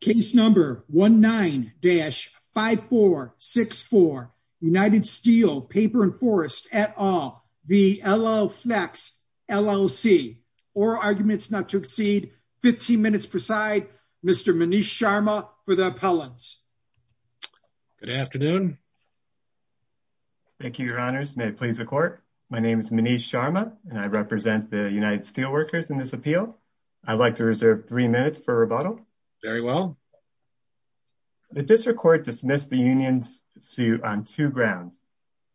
Case number 19-5464 United Steel Paper and Forest et al v. LLFlex LLC Oral arguments not to exceed 15 minutes per side. Mr. Manish Sharma for the appellants. Good afternoon. Thank you, your honors. May it please the court. My name is Manish Sharma and I represent the United Steel Workers in this appeal. I'd like to reserve three minutes for Mr. Sharma. The district court dismissed the union's suit on two grounds.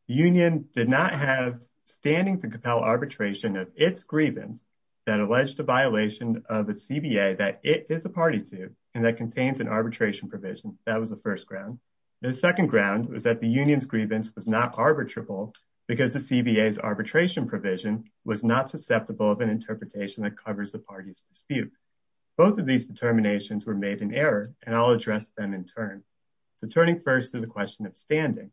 The union did not have standing to compel arbitration of its grievance that alleged a violation of the CBA that it is a party to and that contains an arbitration provision. That was the first ground. The second ground was that the union's grievance was not arbitrable because the CBA's arbitration provision was not susceptible of an interpretation that covers the party's dispute. Both of these determinations were made in error and I'll address them in turn. So turning first to the question of standing.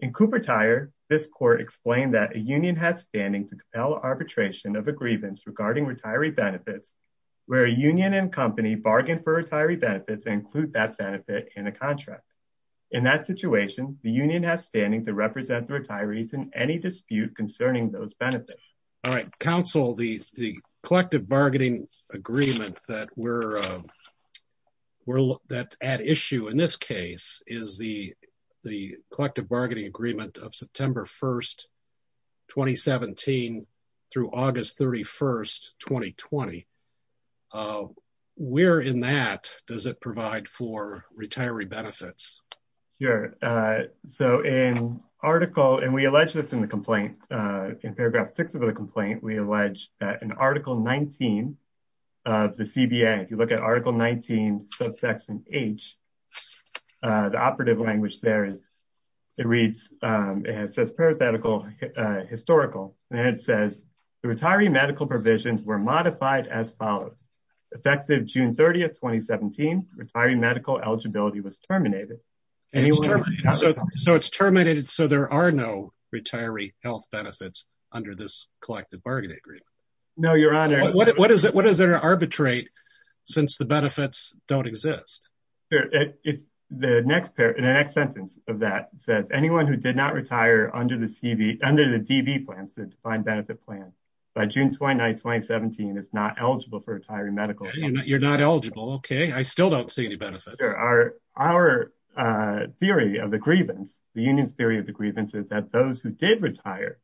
In Cooper Tire, this court explained that a union has standing to compel arbitration of a grievance regarding retiree benefits where a union and company bargain for retiree benefits and include that benefit in a contract. In that situation, the union has standing to represent the retirees in any dispute concerning those benefits. All right, counsel, the collective bargaining agreement that we're, that's at issue in this case is the collective bargaining agreement of September 1st, 2017 through August 31st, 2020. Where in that does it provide for retiree benefits? Sure, so in article, and we allege this in the complaint, in paragraph six of the complaint, we allege that in article 19 of the CBA, if you look at article 19 subsection H, the operative language there is, it reads, it says parathetical historical and it says the retiree medical provisions were modified as follows. Effective June 30th, 2017, retiree medical eligibility was terminated. So it's terminated, so there are no retiree health benefits under this collective bargaining agreement. No, your honor. What is it, what is there to arbitrate since the benefits don't exist? The next sentence of that says anyone who did not retire under the DB plans, the defined benefit plan, by June 29th, 2017 is not eligible for retiree medical. You're not eligible, okay, I still don't see any benefits. Our theory of the grievance, the union's theory of the grievance is that those who did retire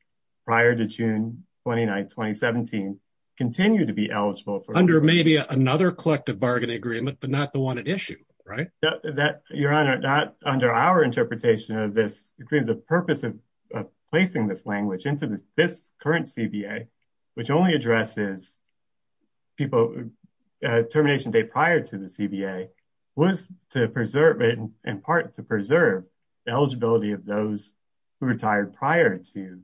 prior to June 29th, 2017, continue to be eligible for. Under maybe another collective bargaining agreement, but not the one at issue, right? That, your honor, not under our interpretation of this agreement, the purpose of placing this language into this current CBA, which only addresses people termination date prior to the CBA, was to preserve it, in part to preserve the eligibility of those who retired prior to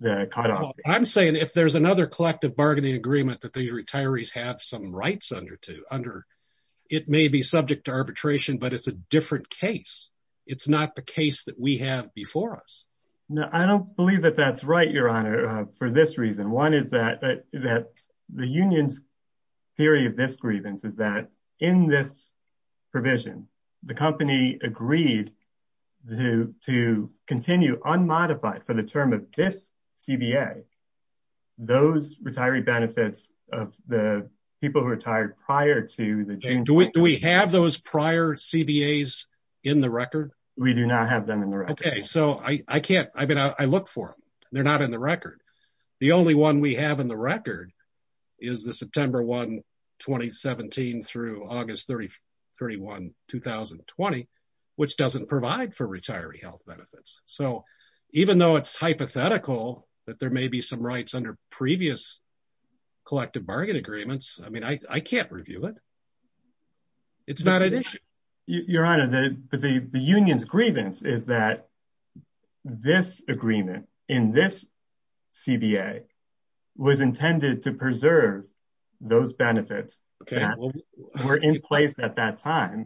the cutoff. I'm saying if there's another collective bargaining agreement that these retirees have some rights under, it may be subject to arbitration, but it's a different case. It's not the case that we have before us. No, I don't believe that that's right, your honor, for this reason. One is that the union's theory of this grievance is that in this provision, the company agreed to continue unmodified for the term of this CBA, those retiree benefits of the people who retired prior to the June. Do we have those prior CBAs in the record? We do not have them in the record. Okay, so I can't, I mean, I look for them, they're not in the record. The only one we have in the record is the September 1, 2017 through August 31, 2020, which doesn't provide for retiree health benefits. So, even though it's hypothetical that there may be some rights under previous collective bargain agreements, I mean, I can't review it. It's not an issue. Your honor, the union's benefits were in place at that time.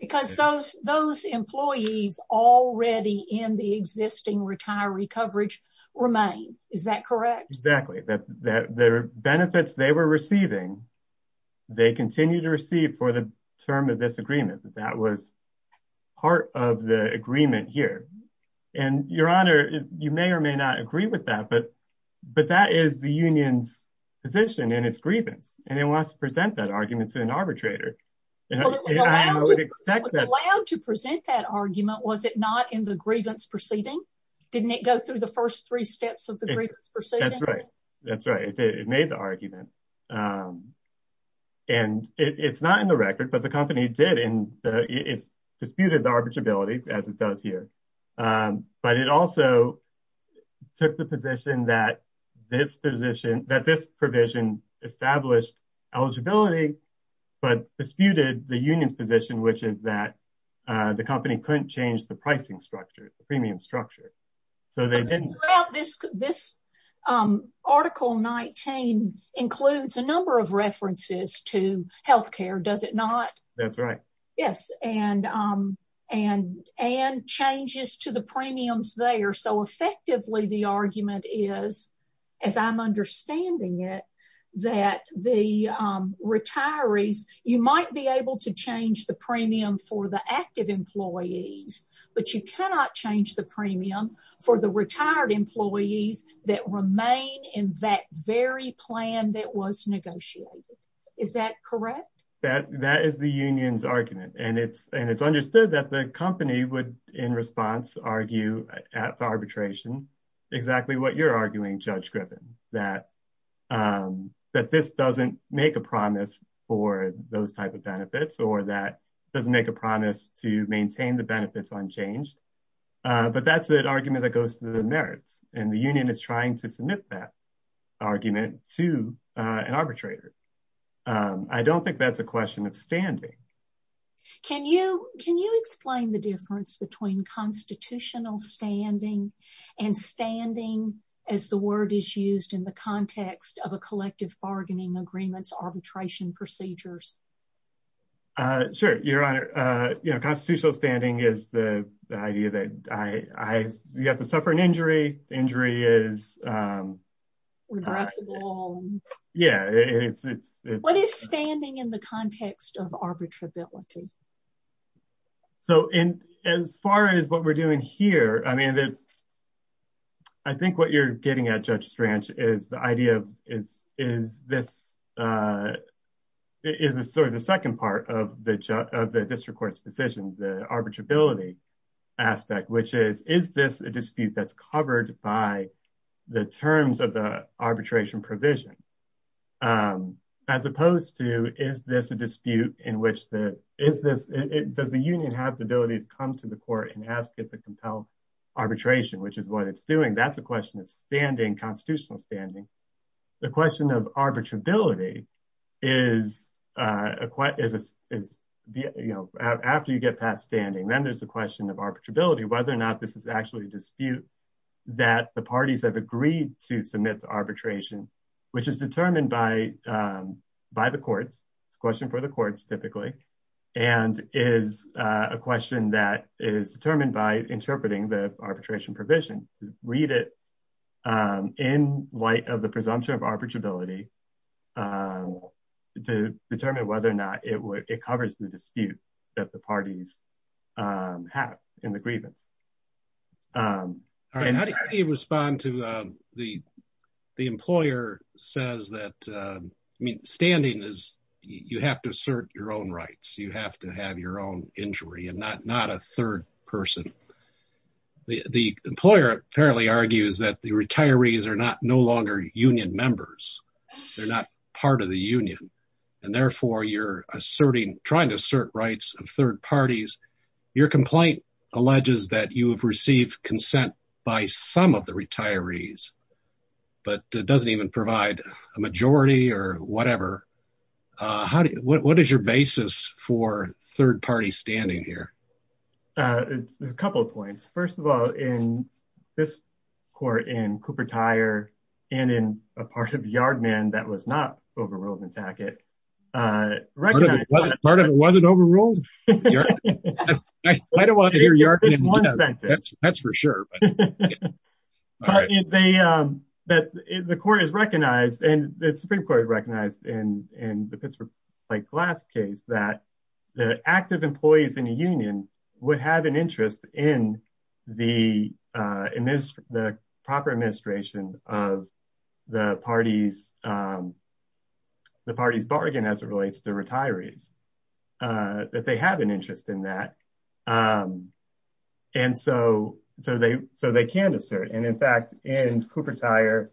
Because those employees already in the existing retiree coverage remain, is that correct? Exactly. The benefits they were receiving, they continue to receive for the term of this agreement. That was part of the agreement here. And your honor, you may or may not agree with that, but that is the union's position and its position is that it must present that argument to an arbitrator. Well, it was allowed to present that argument, was it not, in the grievance proceeding? Didn't it go through the first three steps of the grievance proceeding? That's right. That's right. It made the argument. And it's not in the record, but the company did, and it disputed the arbitrability, as it does here. But it also took the position that this provision established eligibility, but disputed the union's position, which is that the company couldn't change the pricing structure, the premium structure. This article 19 includes a number of references to healthcare, does it not? That's to the premiums there. So effectively, the argument is, as I'm understanding it, that the retirees, you might be able to change the premium for the active employees, but you cannot change the premium for the retired employees that remain in that very plan that was negotiated. Is that correct? That is the union's argument. And it's understood that the company would, in response, argue at arbitration exactly what you're arguing, Judge Griffin, that this doesn't make a promise for those type of benefits, or that doesn't make a promise to maintain the benefits unchanged. But that's an argument that goes to the merits, and the union is trying to submit that argument to an arbitrator. I don't think that's a question of standing. Can you explain the difference between constitutional standing and standing, as the word is used in the context of a collective bargaining agreement's arbitration procedures? Sure, Your Honor. You know, constitutional standing is the idea that you have to suffer an arbitrability. So as far as what we're doing here, I mean, I think what you're getting at, Judge Strange, is the idea of, is this sort of the second part of the district court's decision, the arbitrability aspect, which is, is this a dispute that's covered by the terms of the Constitution? Does the union have the ability to come to the court and ask it to compel arbitration, which is what it's doing? That's a question of standing, constitutional standing. The question of arbitrability is, you know, after you get past standing, then there's a question of arbitrability, whether or not this is actually a dispute that the parties have agreed to submit to arbitration, which is determined by the courts. It's a question for the courts, typically, and is a question that is determined by interpreting the arbitration provision. Read it in light of the presumption of arbitrability to determine whether or not it covers the dispute that the parties have in the grievance. All right. How do you respond to, the employer says that, I mean, standing is, you have to assert your own rights. You have to have your own injury and not a third person. The employer apparently argues that the retirees are not, no longer union members. They're not part of the union, and therefore you're asserting, trying to assert rights of third parties. Your complaint alleges that you have received consent by some of the retirees, but that doesn't even provide a majority or whatever. What is your basis for third party standing here? There's a couple of points. First of all, in this court, in Cooper Tire and in a part of Yardman that was not overruled in Tackett. Part of it wasn't overruled? I don't want to hear Yardman. That's for sure. The court has recognized, and the Supreme Court recognized in the Pittsburgh Pipe Glass case that the active employees in a union would have an interest in the proper administration of the party's bargain as it relates to retirees, that they have an interest in that, and so they can assert. In fact, in Cooper Tire,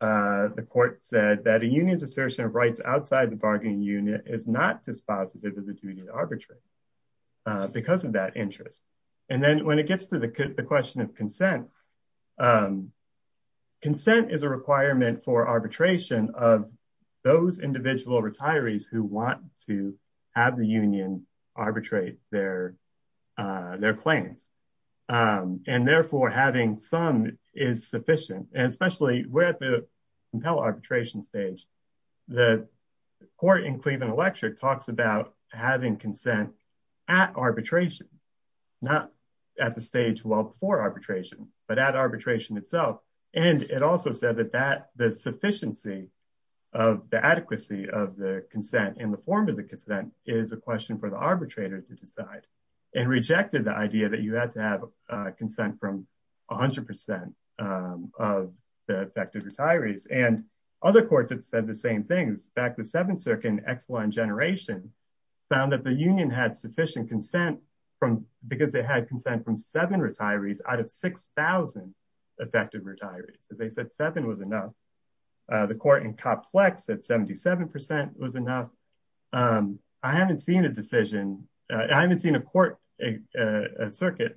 the court said that a union's assertion of rights outside the bargaining unit is not dispositive of the duty to arbitrate because of that interest. Then when it gets to the question of consent, consent is a requirement for arbitration of those individual retirees who want to have the union arbitrate their claims. Therefore, having some is sufficient, and especially we're at the compel arbitration stage. The court in Cleveland Electric talks about having consent at arbitration, not at the stage well before arbitration, but at arbitration itself. It also said that the sufficiency of the adequacy of the consent in the form of the consent is a question for the arbitrator to decide and rejected the idea that you had to have consent from 100 percent of the same things. In fact, the Seventh Circuit in Exelon Generation found that the union had sufficient consent because they had consent from seven retirees out of 6,000 effective retirees. They said seven was enough. The court in Complex said 77 percent was enough. I haven't seen a decision. I haven't seen a court, a circuit,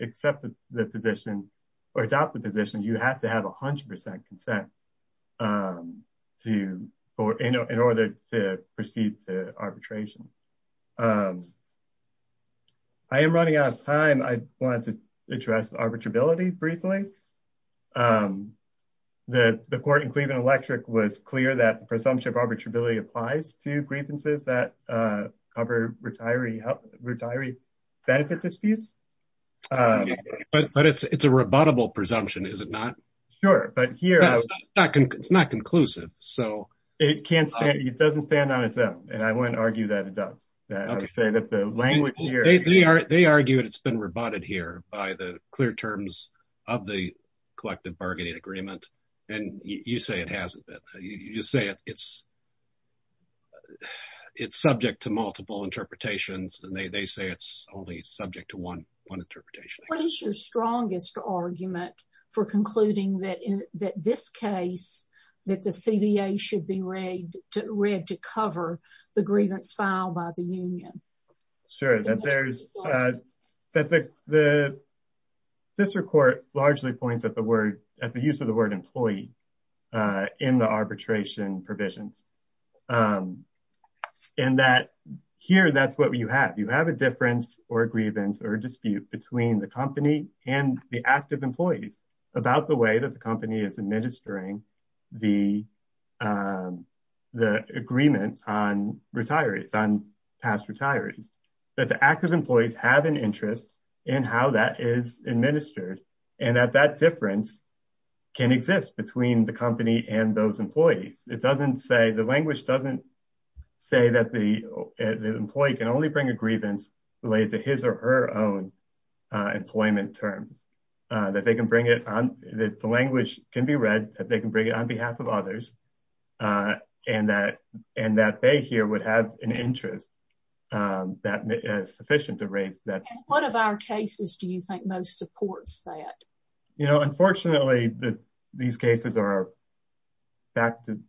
accept the position or adopt the position. You have to have 100 percent consent in order to proceed to arbitration. I am running out of time. I wanted to address arbitrability briefly. The court in Cleveland Electric was clear that the presumption of arbitrability applies to grievances that cover retiree benefit disputes. It is a rebuttable presumption, is it not? Sure. It is not conclusive. It doesn't stand on its own. I wouldn't argue that it does. They argue that it has been rebutted here by the clear terms of the collective bargaining agreement. You say it hasn't. You say it is subject to multiple interpretations. They say it is only subject to one interpretation. What is your strongest argument for concluding that this case, that the CBA should be read to cover the grievance filed by the union? Sure. The district court largely points at the use of the word employee in the arbitration provisions. Here, that is what you have. You have a difference or a grievance or dispute between the company and the active employees about the way the company is that the active employees have an interest in how that is administered and that that difference can exist between the company and those employees. The language doesn't say that the employee can only bring a grievance related to his or her own employment terms. The language can be read that they can bring it on behalf of others and that they here would have an interest that is sufficient to raise that. What of our cases do you think most supports that? Unfortunately, these cases are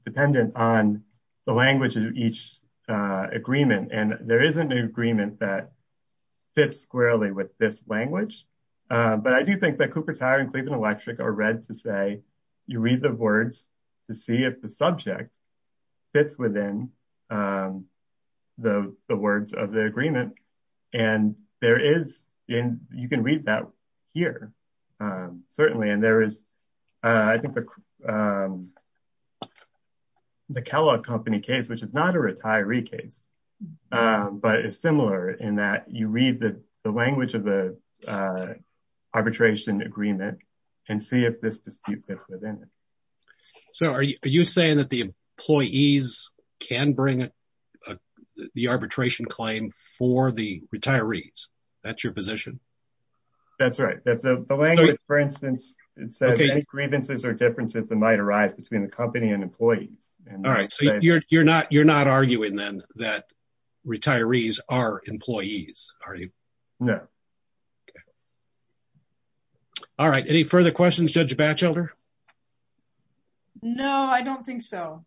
dependent on the language of each agreement. There is an agreement that fits squarely with this language. I do think that Cooper Tire and Cleveland Electric are read you read the words to see if the subject fits within the words of the agreement. You can read that here, certainly. There is the Kellogg Company case, which is not a retiree case, but it is similar in that you read the language of the arbitration agreement and see if this dispute fits within it. Are you saying that the employees can bring the arbitration claim for the retirees? That is your position? That is right. The language, for instance, it says any grievances or differences that might arise between the that retirees are employees. Are you? No. All right, any further questions, Judge Batchelder? No, I don't think so.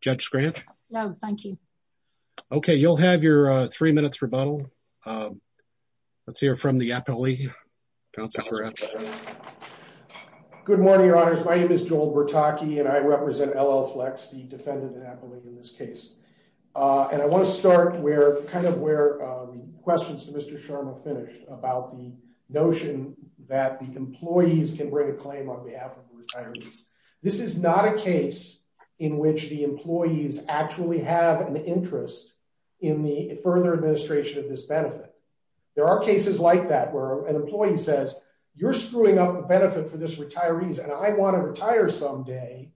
Judge Scranton? No, thank you. Okay, you'll have your three minutes rebuttal. Let's hear from the Appellee. Good morning, Your Honors. My name is Joel Bertocchi, and I represent LL Flex, the Defendant Appellee in this case. And I want to start where kind of where the questions to Mr. Sharma finished about the notion that the employees can bring a claim on behalf of retirees. This is not a case in which the employees actually have an interest in the further administration of this benefit. There are cases like that where an employee says, you're screwing up the benefit for this retirees, and I want to retire someday.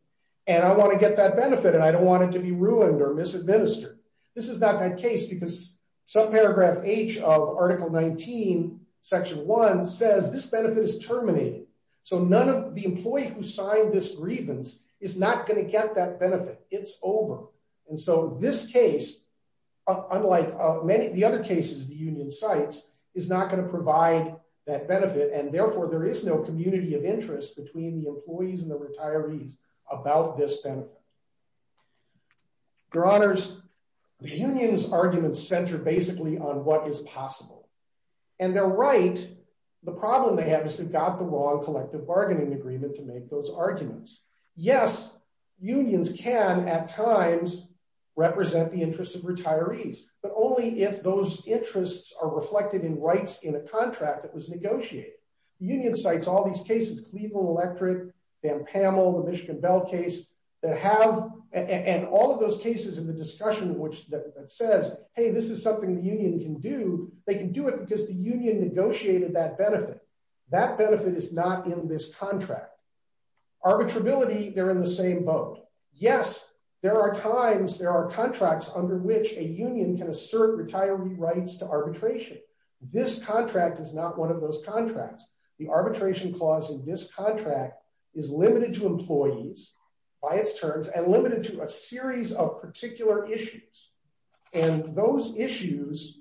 And I want to get that benefit, and I don't want it to be ruined or misadministered. This is not that case, because subparagraph H of Article 19, Section 1 says this benefit is terminated. So none of the employee who signed this grievance is not going to get that benefit, it's over. And so this case, unlike many of the other cases, the union sites is not going to therefore there is no community of interest between the employees and the retirees about this benefit. Your Honors, the union's arguments center basically on what is possible. And they're right. The problem they have is they've got the wrong collective bargaining agreement to make those arguments. Yes, unions can at times represent the interests of retirees, but only if those union sites all these cases, Cleveland Electric, Dan Pamel, the Michigan Bell case, that have, and all of those cases in the discussion, which says, hey, this is something the union can do, they can do it because the union negotiated that benefit. That benefit is not in this contract. arbitrability, they're in the same boat. Yes, there are times there are contracts under which a union can assert retiree rights to arbitration. This contract is not one of those contracts, the arbitration clause in this contract is limited to employees by its terms and limited to a series of particular issues. And those issues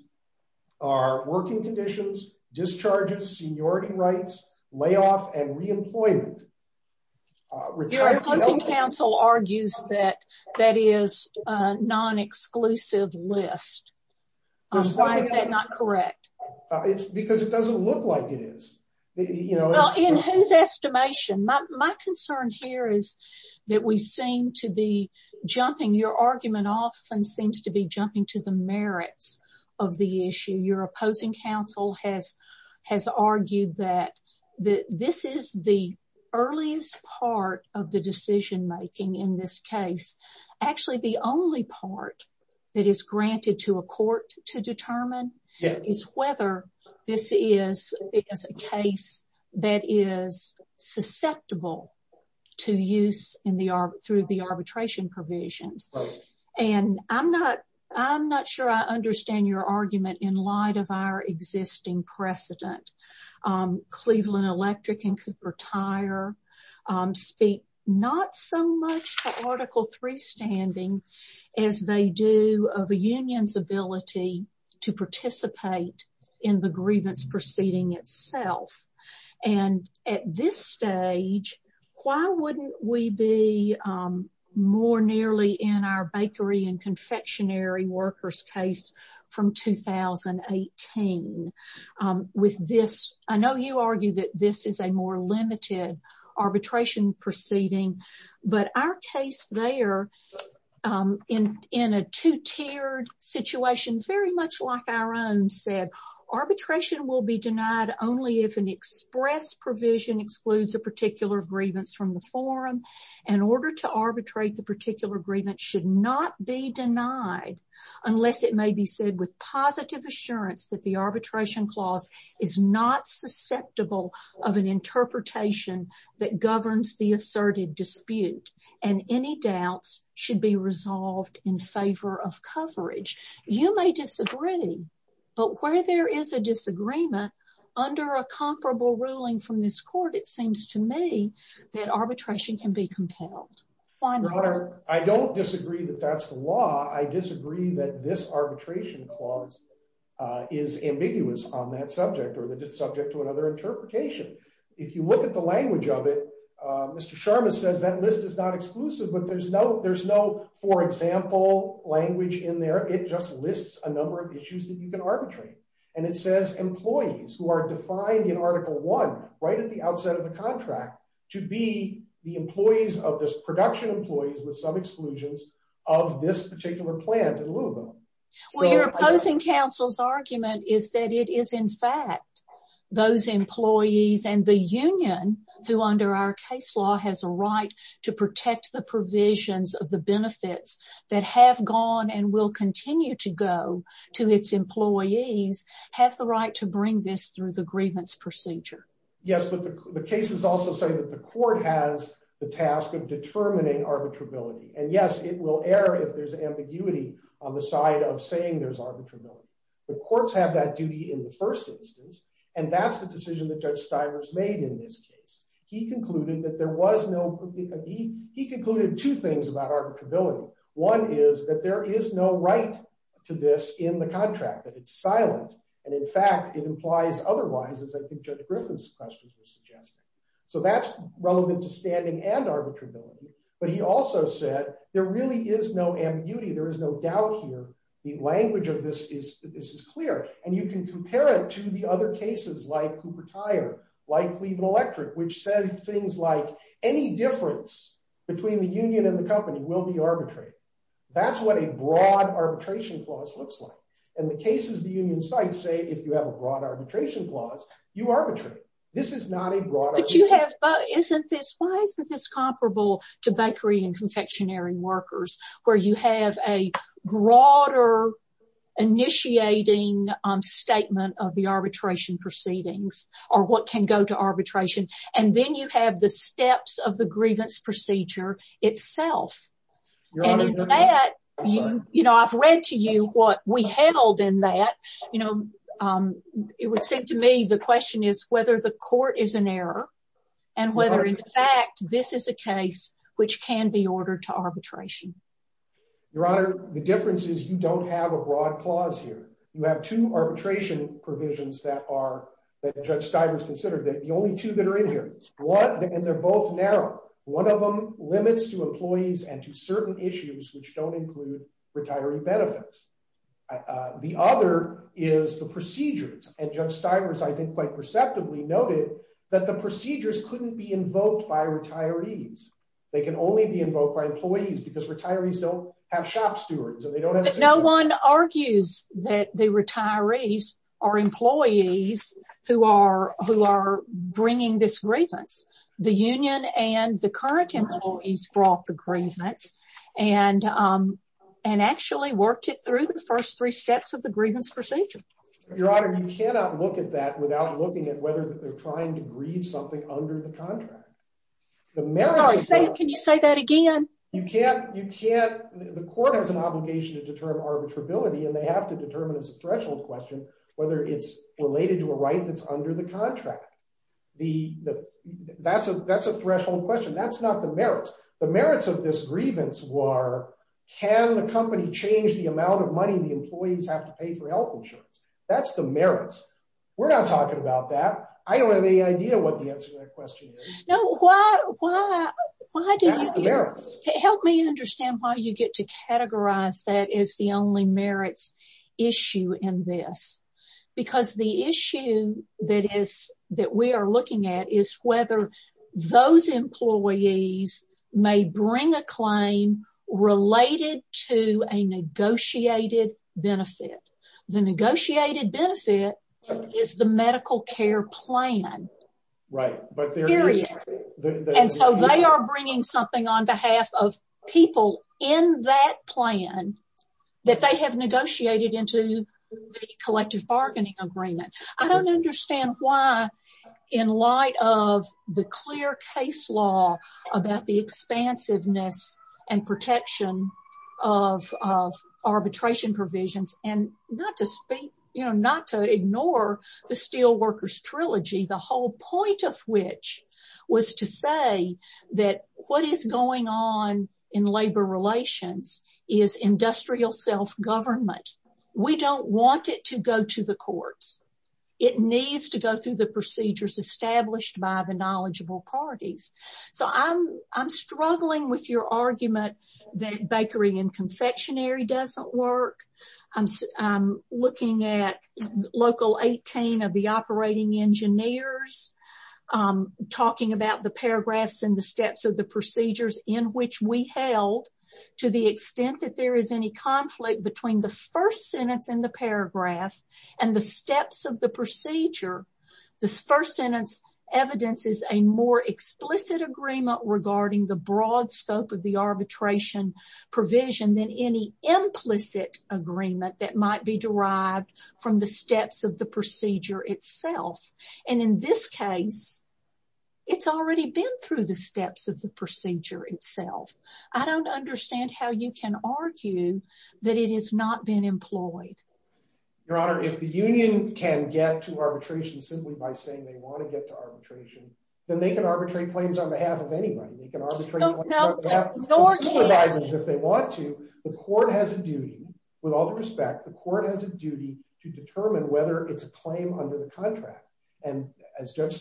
are working conditions, discharges, seniority rights, layoff and re-employment. Your opposing counsel argues that that is a non-exclusive list. Why is that not correct? It's because it doesn't look like it is. In whose estimation? My concern here is that we seem to be jumping, your argument often seems to be jumping to the merits of the issue. Your opposing counsel has argued that this is the earliest part of the decision making in this case. Actually, the only part that is granted to a court to determine is whether this is a case that is susceptible to use through the arbitration provisions. And I'm not sure I understand your argument in light of our existing precedent. Cleveland Electric and Cooper Tire speak not so much to Article III standing as they do of a union's ability to participate in the grievance proceeding itself. And at this stage, why wouldn't we be more nearly in our bakery and confectionery workers case from 2018? With this, I know you argue that this is a more limited arbitration proceeding, but our case there in a two-tiered situation, very much like our own said, arbitration will be denied only if an order to arbitrate the particular grievance should not be denied, unless it may be said with positive assurance that the arbitration clause is not susceptible of an interpretation that governs the asserted dispute and any doubts should be resolved in favor of coverage. You may disagree, but where there is a disagreement under a comparable ruling from this court, it seems to me that arbitration can be compelled. Your Honor, I don't disagree that that's the law. I disagree that this arbitration clause is ambiguous on that subject or that it's subject to another interpretation. If you look at the language of it, Mr. Sharma says that list is not exclusive, but there's no for example language in there. It just lists a number of issues that you can to be the employees of this production employees with some exclusions of this particular plant in Louisville. Well, you're opposing counsel's argument is that it is in fact those employees and the union who under our case law has a right to protect the provisions of the benefits that have gone and will continue to go to its employees have the right to bring this through the grievance procedure. Yes, but the case is also saying that the court has the task of determining arbitrability and yes, it will air if there's ambiguity on the side of saying there's arbitrability. The courts have that duty in the first instance and that's the decision that Judge Stivers made in this case. He concluded that there was no he concluded two things about arbitrability. One is that there is no right to this in the contract that it's silent and in fact it implies otherwise as I think Judge Griffin's questions were suggested. So that's relevant to standing and arbitrability, but he also said there really is no ambiguity. There is no doubt here. The language of this is this is clear and you can compare it to the other cases like Cooper Tire, like Cleveland Electric, which says things like any difference between the union and the company will be arbitrary. That's what a broad arbitration clause looks like and the cases the union sites say if you have a broad arbitration clause you arbitrate. This is not a broad. But you have isn't this why isn't this comparable to bakery and confectionery workers where you have a broader initiating statement of the arbitration proceedings or what can go to arbitration and then you have the steps of the grievance procedure itself and in that you know I've read to you what we handled in that you know it would seem to me the question is whether the court is an error and whether in fact this is a case which can be ordered to arbitration. Your honor the difference is you don't have a broad clause here. You have two arbitration provisions that are that Judge Stivers considered that the only two that are in here one and they're both narrow. One of them include retiree benefits. The other is the procedures and Judge Stivers I think quite perceptively noted that the procedures couldn't be invoked by retirees. They can only be invoked by employees because retirees don't have shop stewards. No one argues that the retirees are employees who are who are bringing this grievance. The union and the current employees brought the grievance and actually worked it through the first three steps of the grievance procedure. Your honor you cannot look at that without looking at whether they're trying to grieve something under the contract. Sorry can you say that again? You can't you can't the court has an obligation to determine arbitrability and they have to determine as a threshold question whether it's related to a right that's under the contract. That's a threshold question. That's not the merit. The merits of this grievance were can the company change the amount of money the employees have to pay for health insurance. That's the merits. We're not talking about that. I don't have any idea what the answer to that question is. No why why why do you help me understand why you get to categorize that is the only merits issue in this because the issue that is that we are looking at is whether those employees may bring a claim related to a negotiated benefit. The negotiated benefit is the medical care plan. Right but there is and so they are bringing something on behalf of people in that plan that they have negotiated into the collective bargaining agreement. I don't understand why in light of the clear case law about the expansiveness and protection of arbitration provisions and not to speak you know not to ignore the steel workers trilogy. The whole point of which was to say that what is going on in labor relations is industrial self-government. We don't want it to go to the courts. It needs to go through the procedures established by the knowledgeable parties. So I'm I'm struggling with your argument that bakery and confectionery doesn't work. I'm looking at local 18 of the operating engineers talking about the paragraphs and the steps of the procedures in which we held to the extent that there is any conflict between the first sentence in the paragraph and the steps of the procedure. This first sentence evidence is a more explicit agreement regarding the broad scope of the arbitration provision than any implicit agreement that might be derived from the steps of the procedure itself and in this case it's already been through the steps of the procedure itself. I don't understand how you can argue that it has not been employed. Your honor if the union can get to arbitration simply by saying they want to get to arbitration then they can arbitrate claims on behalf of anybody. They can arbitrate if they want to. The court has a duty with all due respect the court has a duty to determine whether it's a claim under the contract and as and if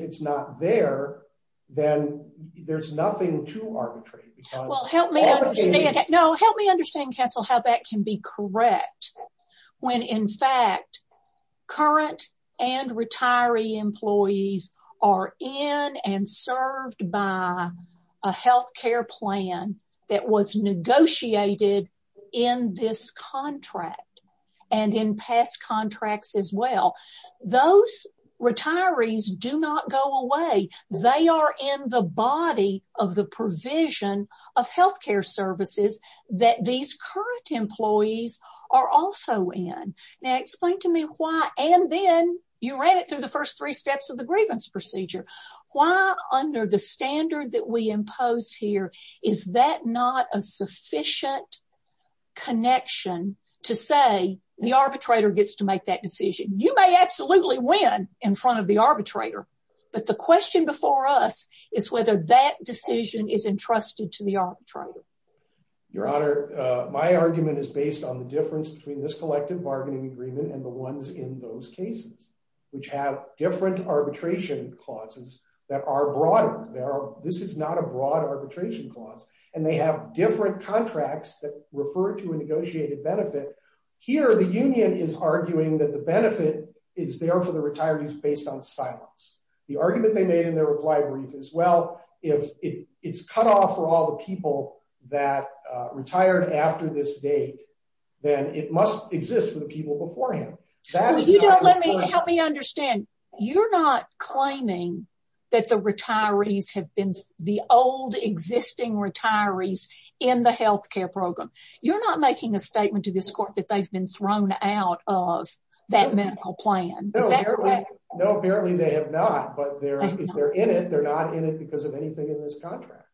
it's not there then there's nothing to arbitrate. Well help me no help me understand counsel how that can be correct when in fact current and retiree employees are in and served by a health care plan that was negotiated in this contract and in past contracts as well. Those retirees do not go away. They are in the body of the provision of health care services that these current employees are also in. Now explain to me why and then you ran it through the first three steps of the grievance procedure. Why under the standard that we impose here is that a sufficient connection to say the arbitrator gets to make that decision. You may absolutely win in front of the arbitrator but the question before us is whether that decision is entrusted to the arbitrator. Your honor my argument is based on the difference between this collective bargaining agreement and the ones in those cases which have different arbitration clauses that are different contracts that refer to a negotiated benefit. Here the union is arguing that the benefit is there for the retirees based on silence. The argument they made in their reply brief as well if it's cut off for all the people that retired after this date then it must exist for the people beforehand. You don't let me help me understand you're not claiming that the retirees have been the old existing retirees in the health care program. You're not making a statement to this court that they've been thrown out of that medical plan. No apparently they have not but they're if they're in it they're not in it because of anything in this contract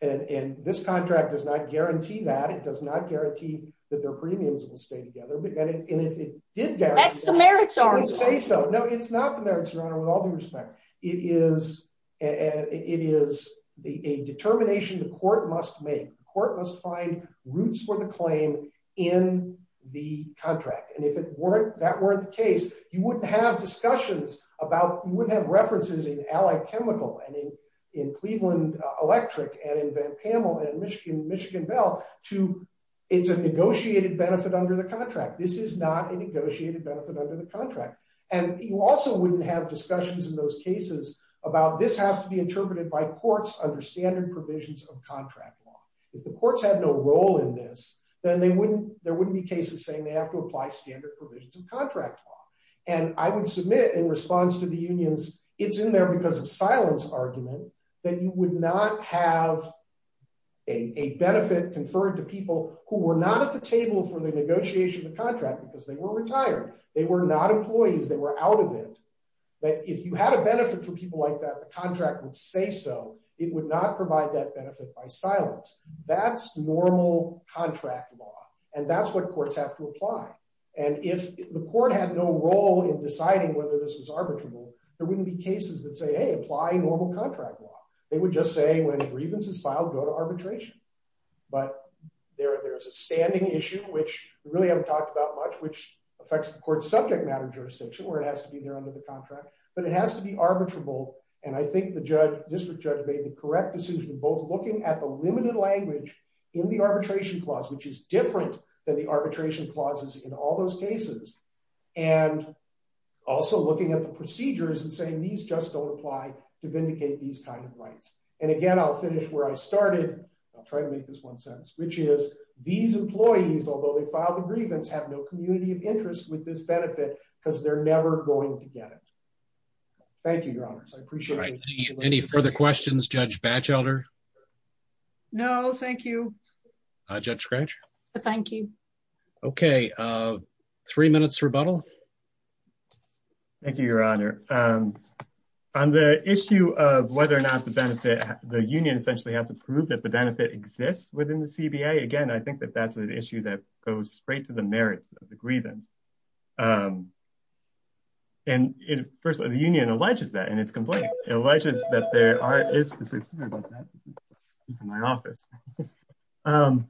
and this contract does not guarantee that. It does not guarantee that their premiums will stay together and if it did that's the merits. I would say so no it's not the merits your honor with all due respect it is and it is the a determination the court must make the court must find roots for the claim in the contract and if it weren't that were the case you wouldn't have discussions about you wouldn't have references in allied chemical and in in Cleveland electric and in Van Pamel and Michigan Bell to it's a negotiated benefit under the contract this is not a negotiated benefit under the contract and you also wouldn't have discussions in those cases about this has to be interpreted by courts under standard provisions of contract law. If the courts had no role in this then they wouldn't there wouldn't be cases saying they have to apply standard provisions of contract law and I would submit in response to the unions it's in there because of silence argument that you would not have a benefit conferred to people who were not at the table for the negotiation of the contract because they were retired they were not employees they were out of it but if you had a benefit from people like that the contract would say so it would not provide that benefit by silence that's normal contract law and that's what courts have to apply and if the court had no role in deciding whether this was arbitrable there wouldn't be cases that say hey apply normal contract law they would just say when a grievance is filed go to arbitration but there there's a standing issue which we really haven't talked about much which affects the court's subject matter jurisdiction where it has to be there under the contract but it has to be arbitrable and I think the judge district judge made the correct decision both looking at the limited language in the arbitration clause which is different than the arbitration clauses in all cases and also looking at the procedures and saying these just don't apply to vindicate these kind of rights and again I'll finish where I started I'll try to make this one sentence which is these employees although they filed the grievance have no community of interest with this benefit because they're never going to get it thank you your honors I appreciate any further questions judge batch elder no thank you uh judge scratch thank you okay uh three minutes rebuttal thank you your honor um on the issue of whether or not the benefit the union essentially has to prove that the benefit exists within the cba again I think that that's an issue that goes straight to the merits of the grievance um and it first of the union alleges that and it's complete alleges that there are is in my office um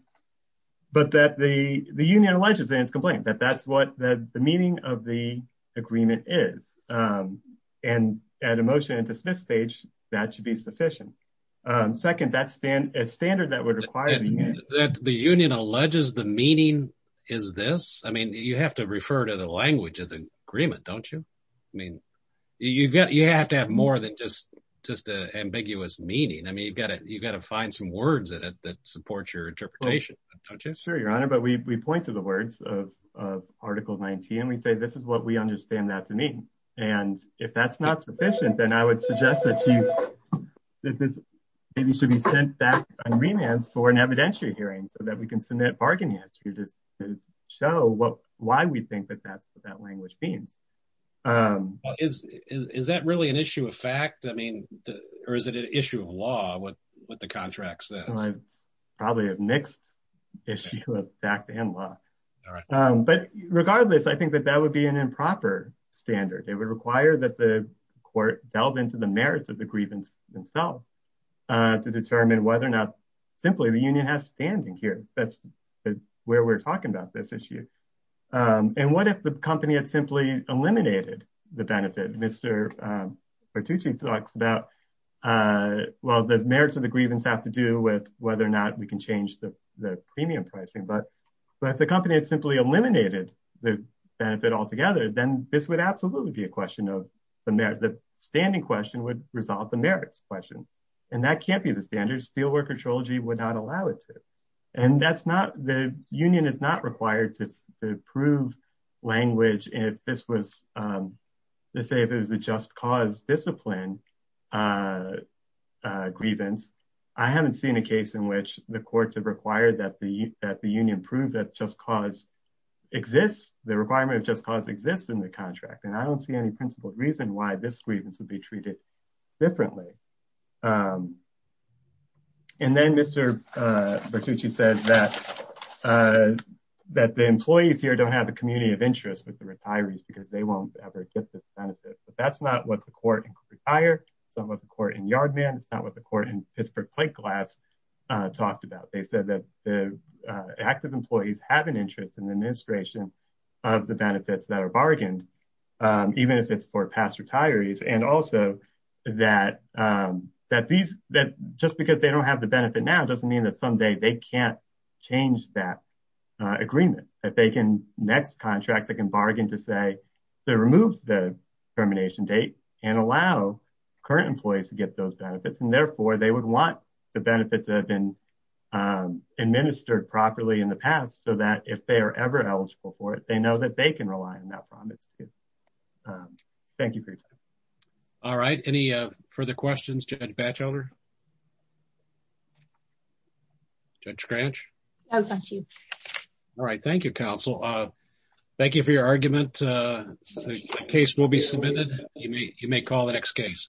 but that the the union alleges and it's complained that that's what that the meaning of the agreement is um and at a motion and dismiss stage that should be sufficient um second that stand a standard that would require that the union alleges the meaning is this I mean you have to refer to the language of the agreement don't you mean you've got you have to have more than just just a ambiguous meaning I mean you've got to you've got to find some words in it that supports your interpretation don't you sure your honor but we we point to the words of of article 19 and we say this is what we understand that to mean and if that's not sufficient then I would suggest that you this is maybe should be sent back on remands for an evidentiary hearing so that we can submit bargainers to just show what why we think that's what that language means um is is that really an issue of fact I mean or is it an issue of law what what the contract says it's probably a mixed issue of fact and law all right um but regardless I think that that would be an improper standard it would require that the court delve into the merits of the grievance themselves uh to determine whether or not simply the union has standing here that's where we're talking about this issue um and what if the company had simply eliminated the benefit Mr um Bertucci talks about uh well the merits of the grievance have to do with whether or not we can change the the premium pricing but but if the company had simply eliminated the benefit altogether then this would absolutely be a question of the merit the standing question would resolve the merits question and that can't be the standard steelworker trilogy would not allow it to and that's not the union is not required to prove language if this was um let's say if it was a just cause discipline uh uh grievance I haven't seen a case in which the courts have required that the that the union proved that just cause exists the requirement of just cause exists in the contract and I don't see any principled reason why this grievance would be treated differently um and then Mr uh Bertucci says that uh that the employees here don't have a community of interest with the retirees because they won't ever get this benefit but that's not what the court and retire some of the court in yard man it's not what the court in Pittsburgh plate glass uh talked about they said that the active employees have an interest in the administration of the benefits that are bargained um even if it's for past retirees and also that um that these that just because they don't have the benefit now doesn't mean that someday they can't change that uh agreement that they can next contract they can bargain to say they remove the termination date and allow current employees to get those benefits and therefore they would want the benefits that have been um administered properly in the past so that if they are ever eligible for it they know that they can rely on that promise too um thank you for your time all right any uh further questions Judge Batchelder Judge Cranch oh thank you all right thank you counsel uh thank you for your argument uh the case will be submitted you may you may call the next case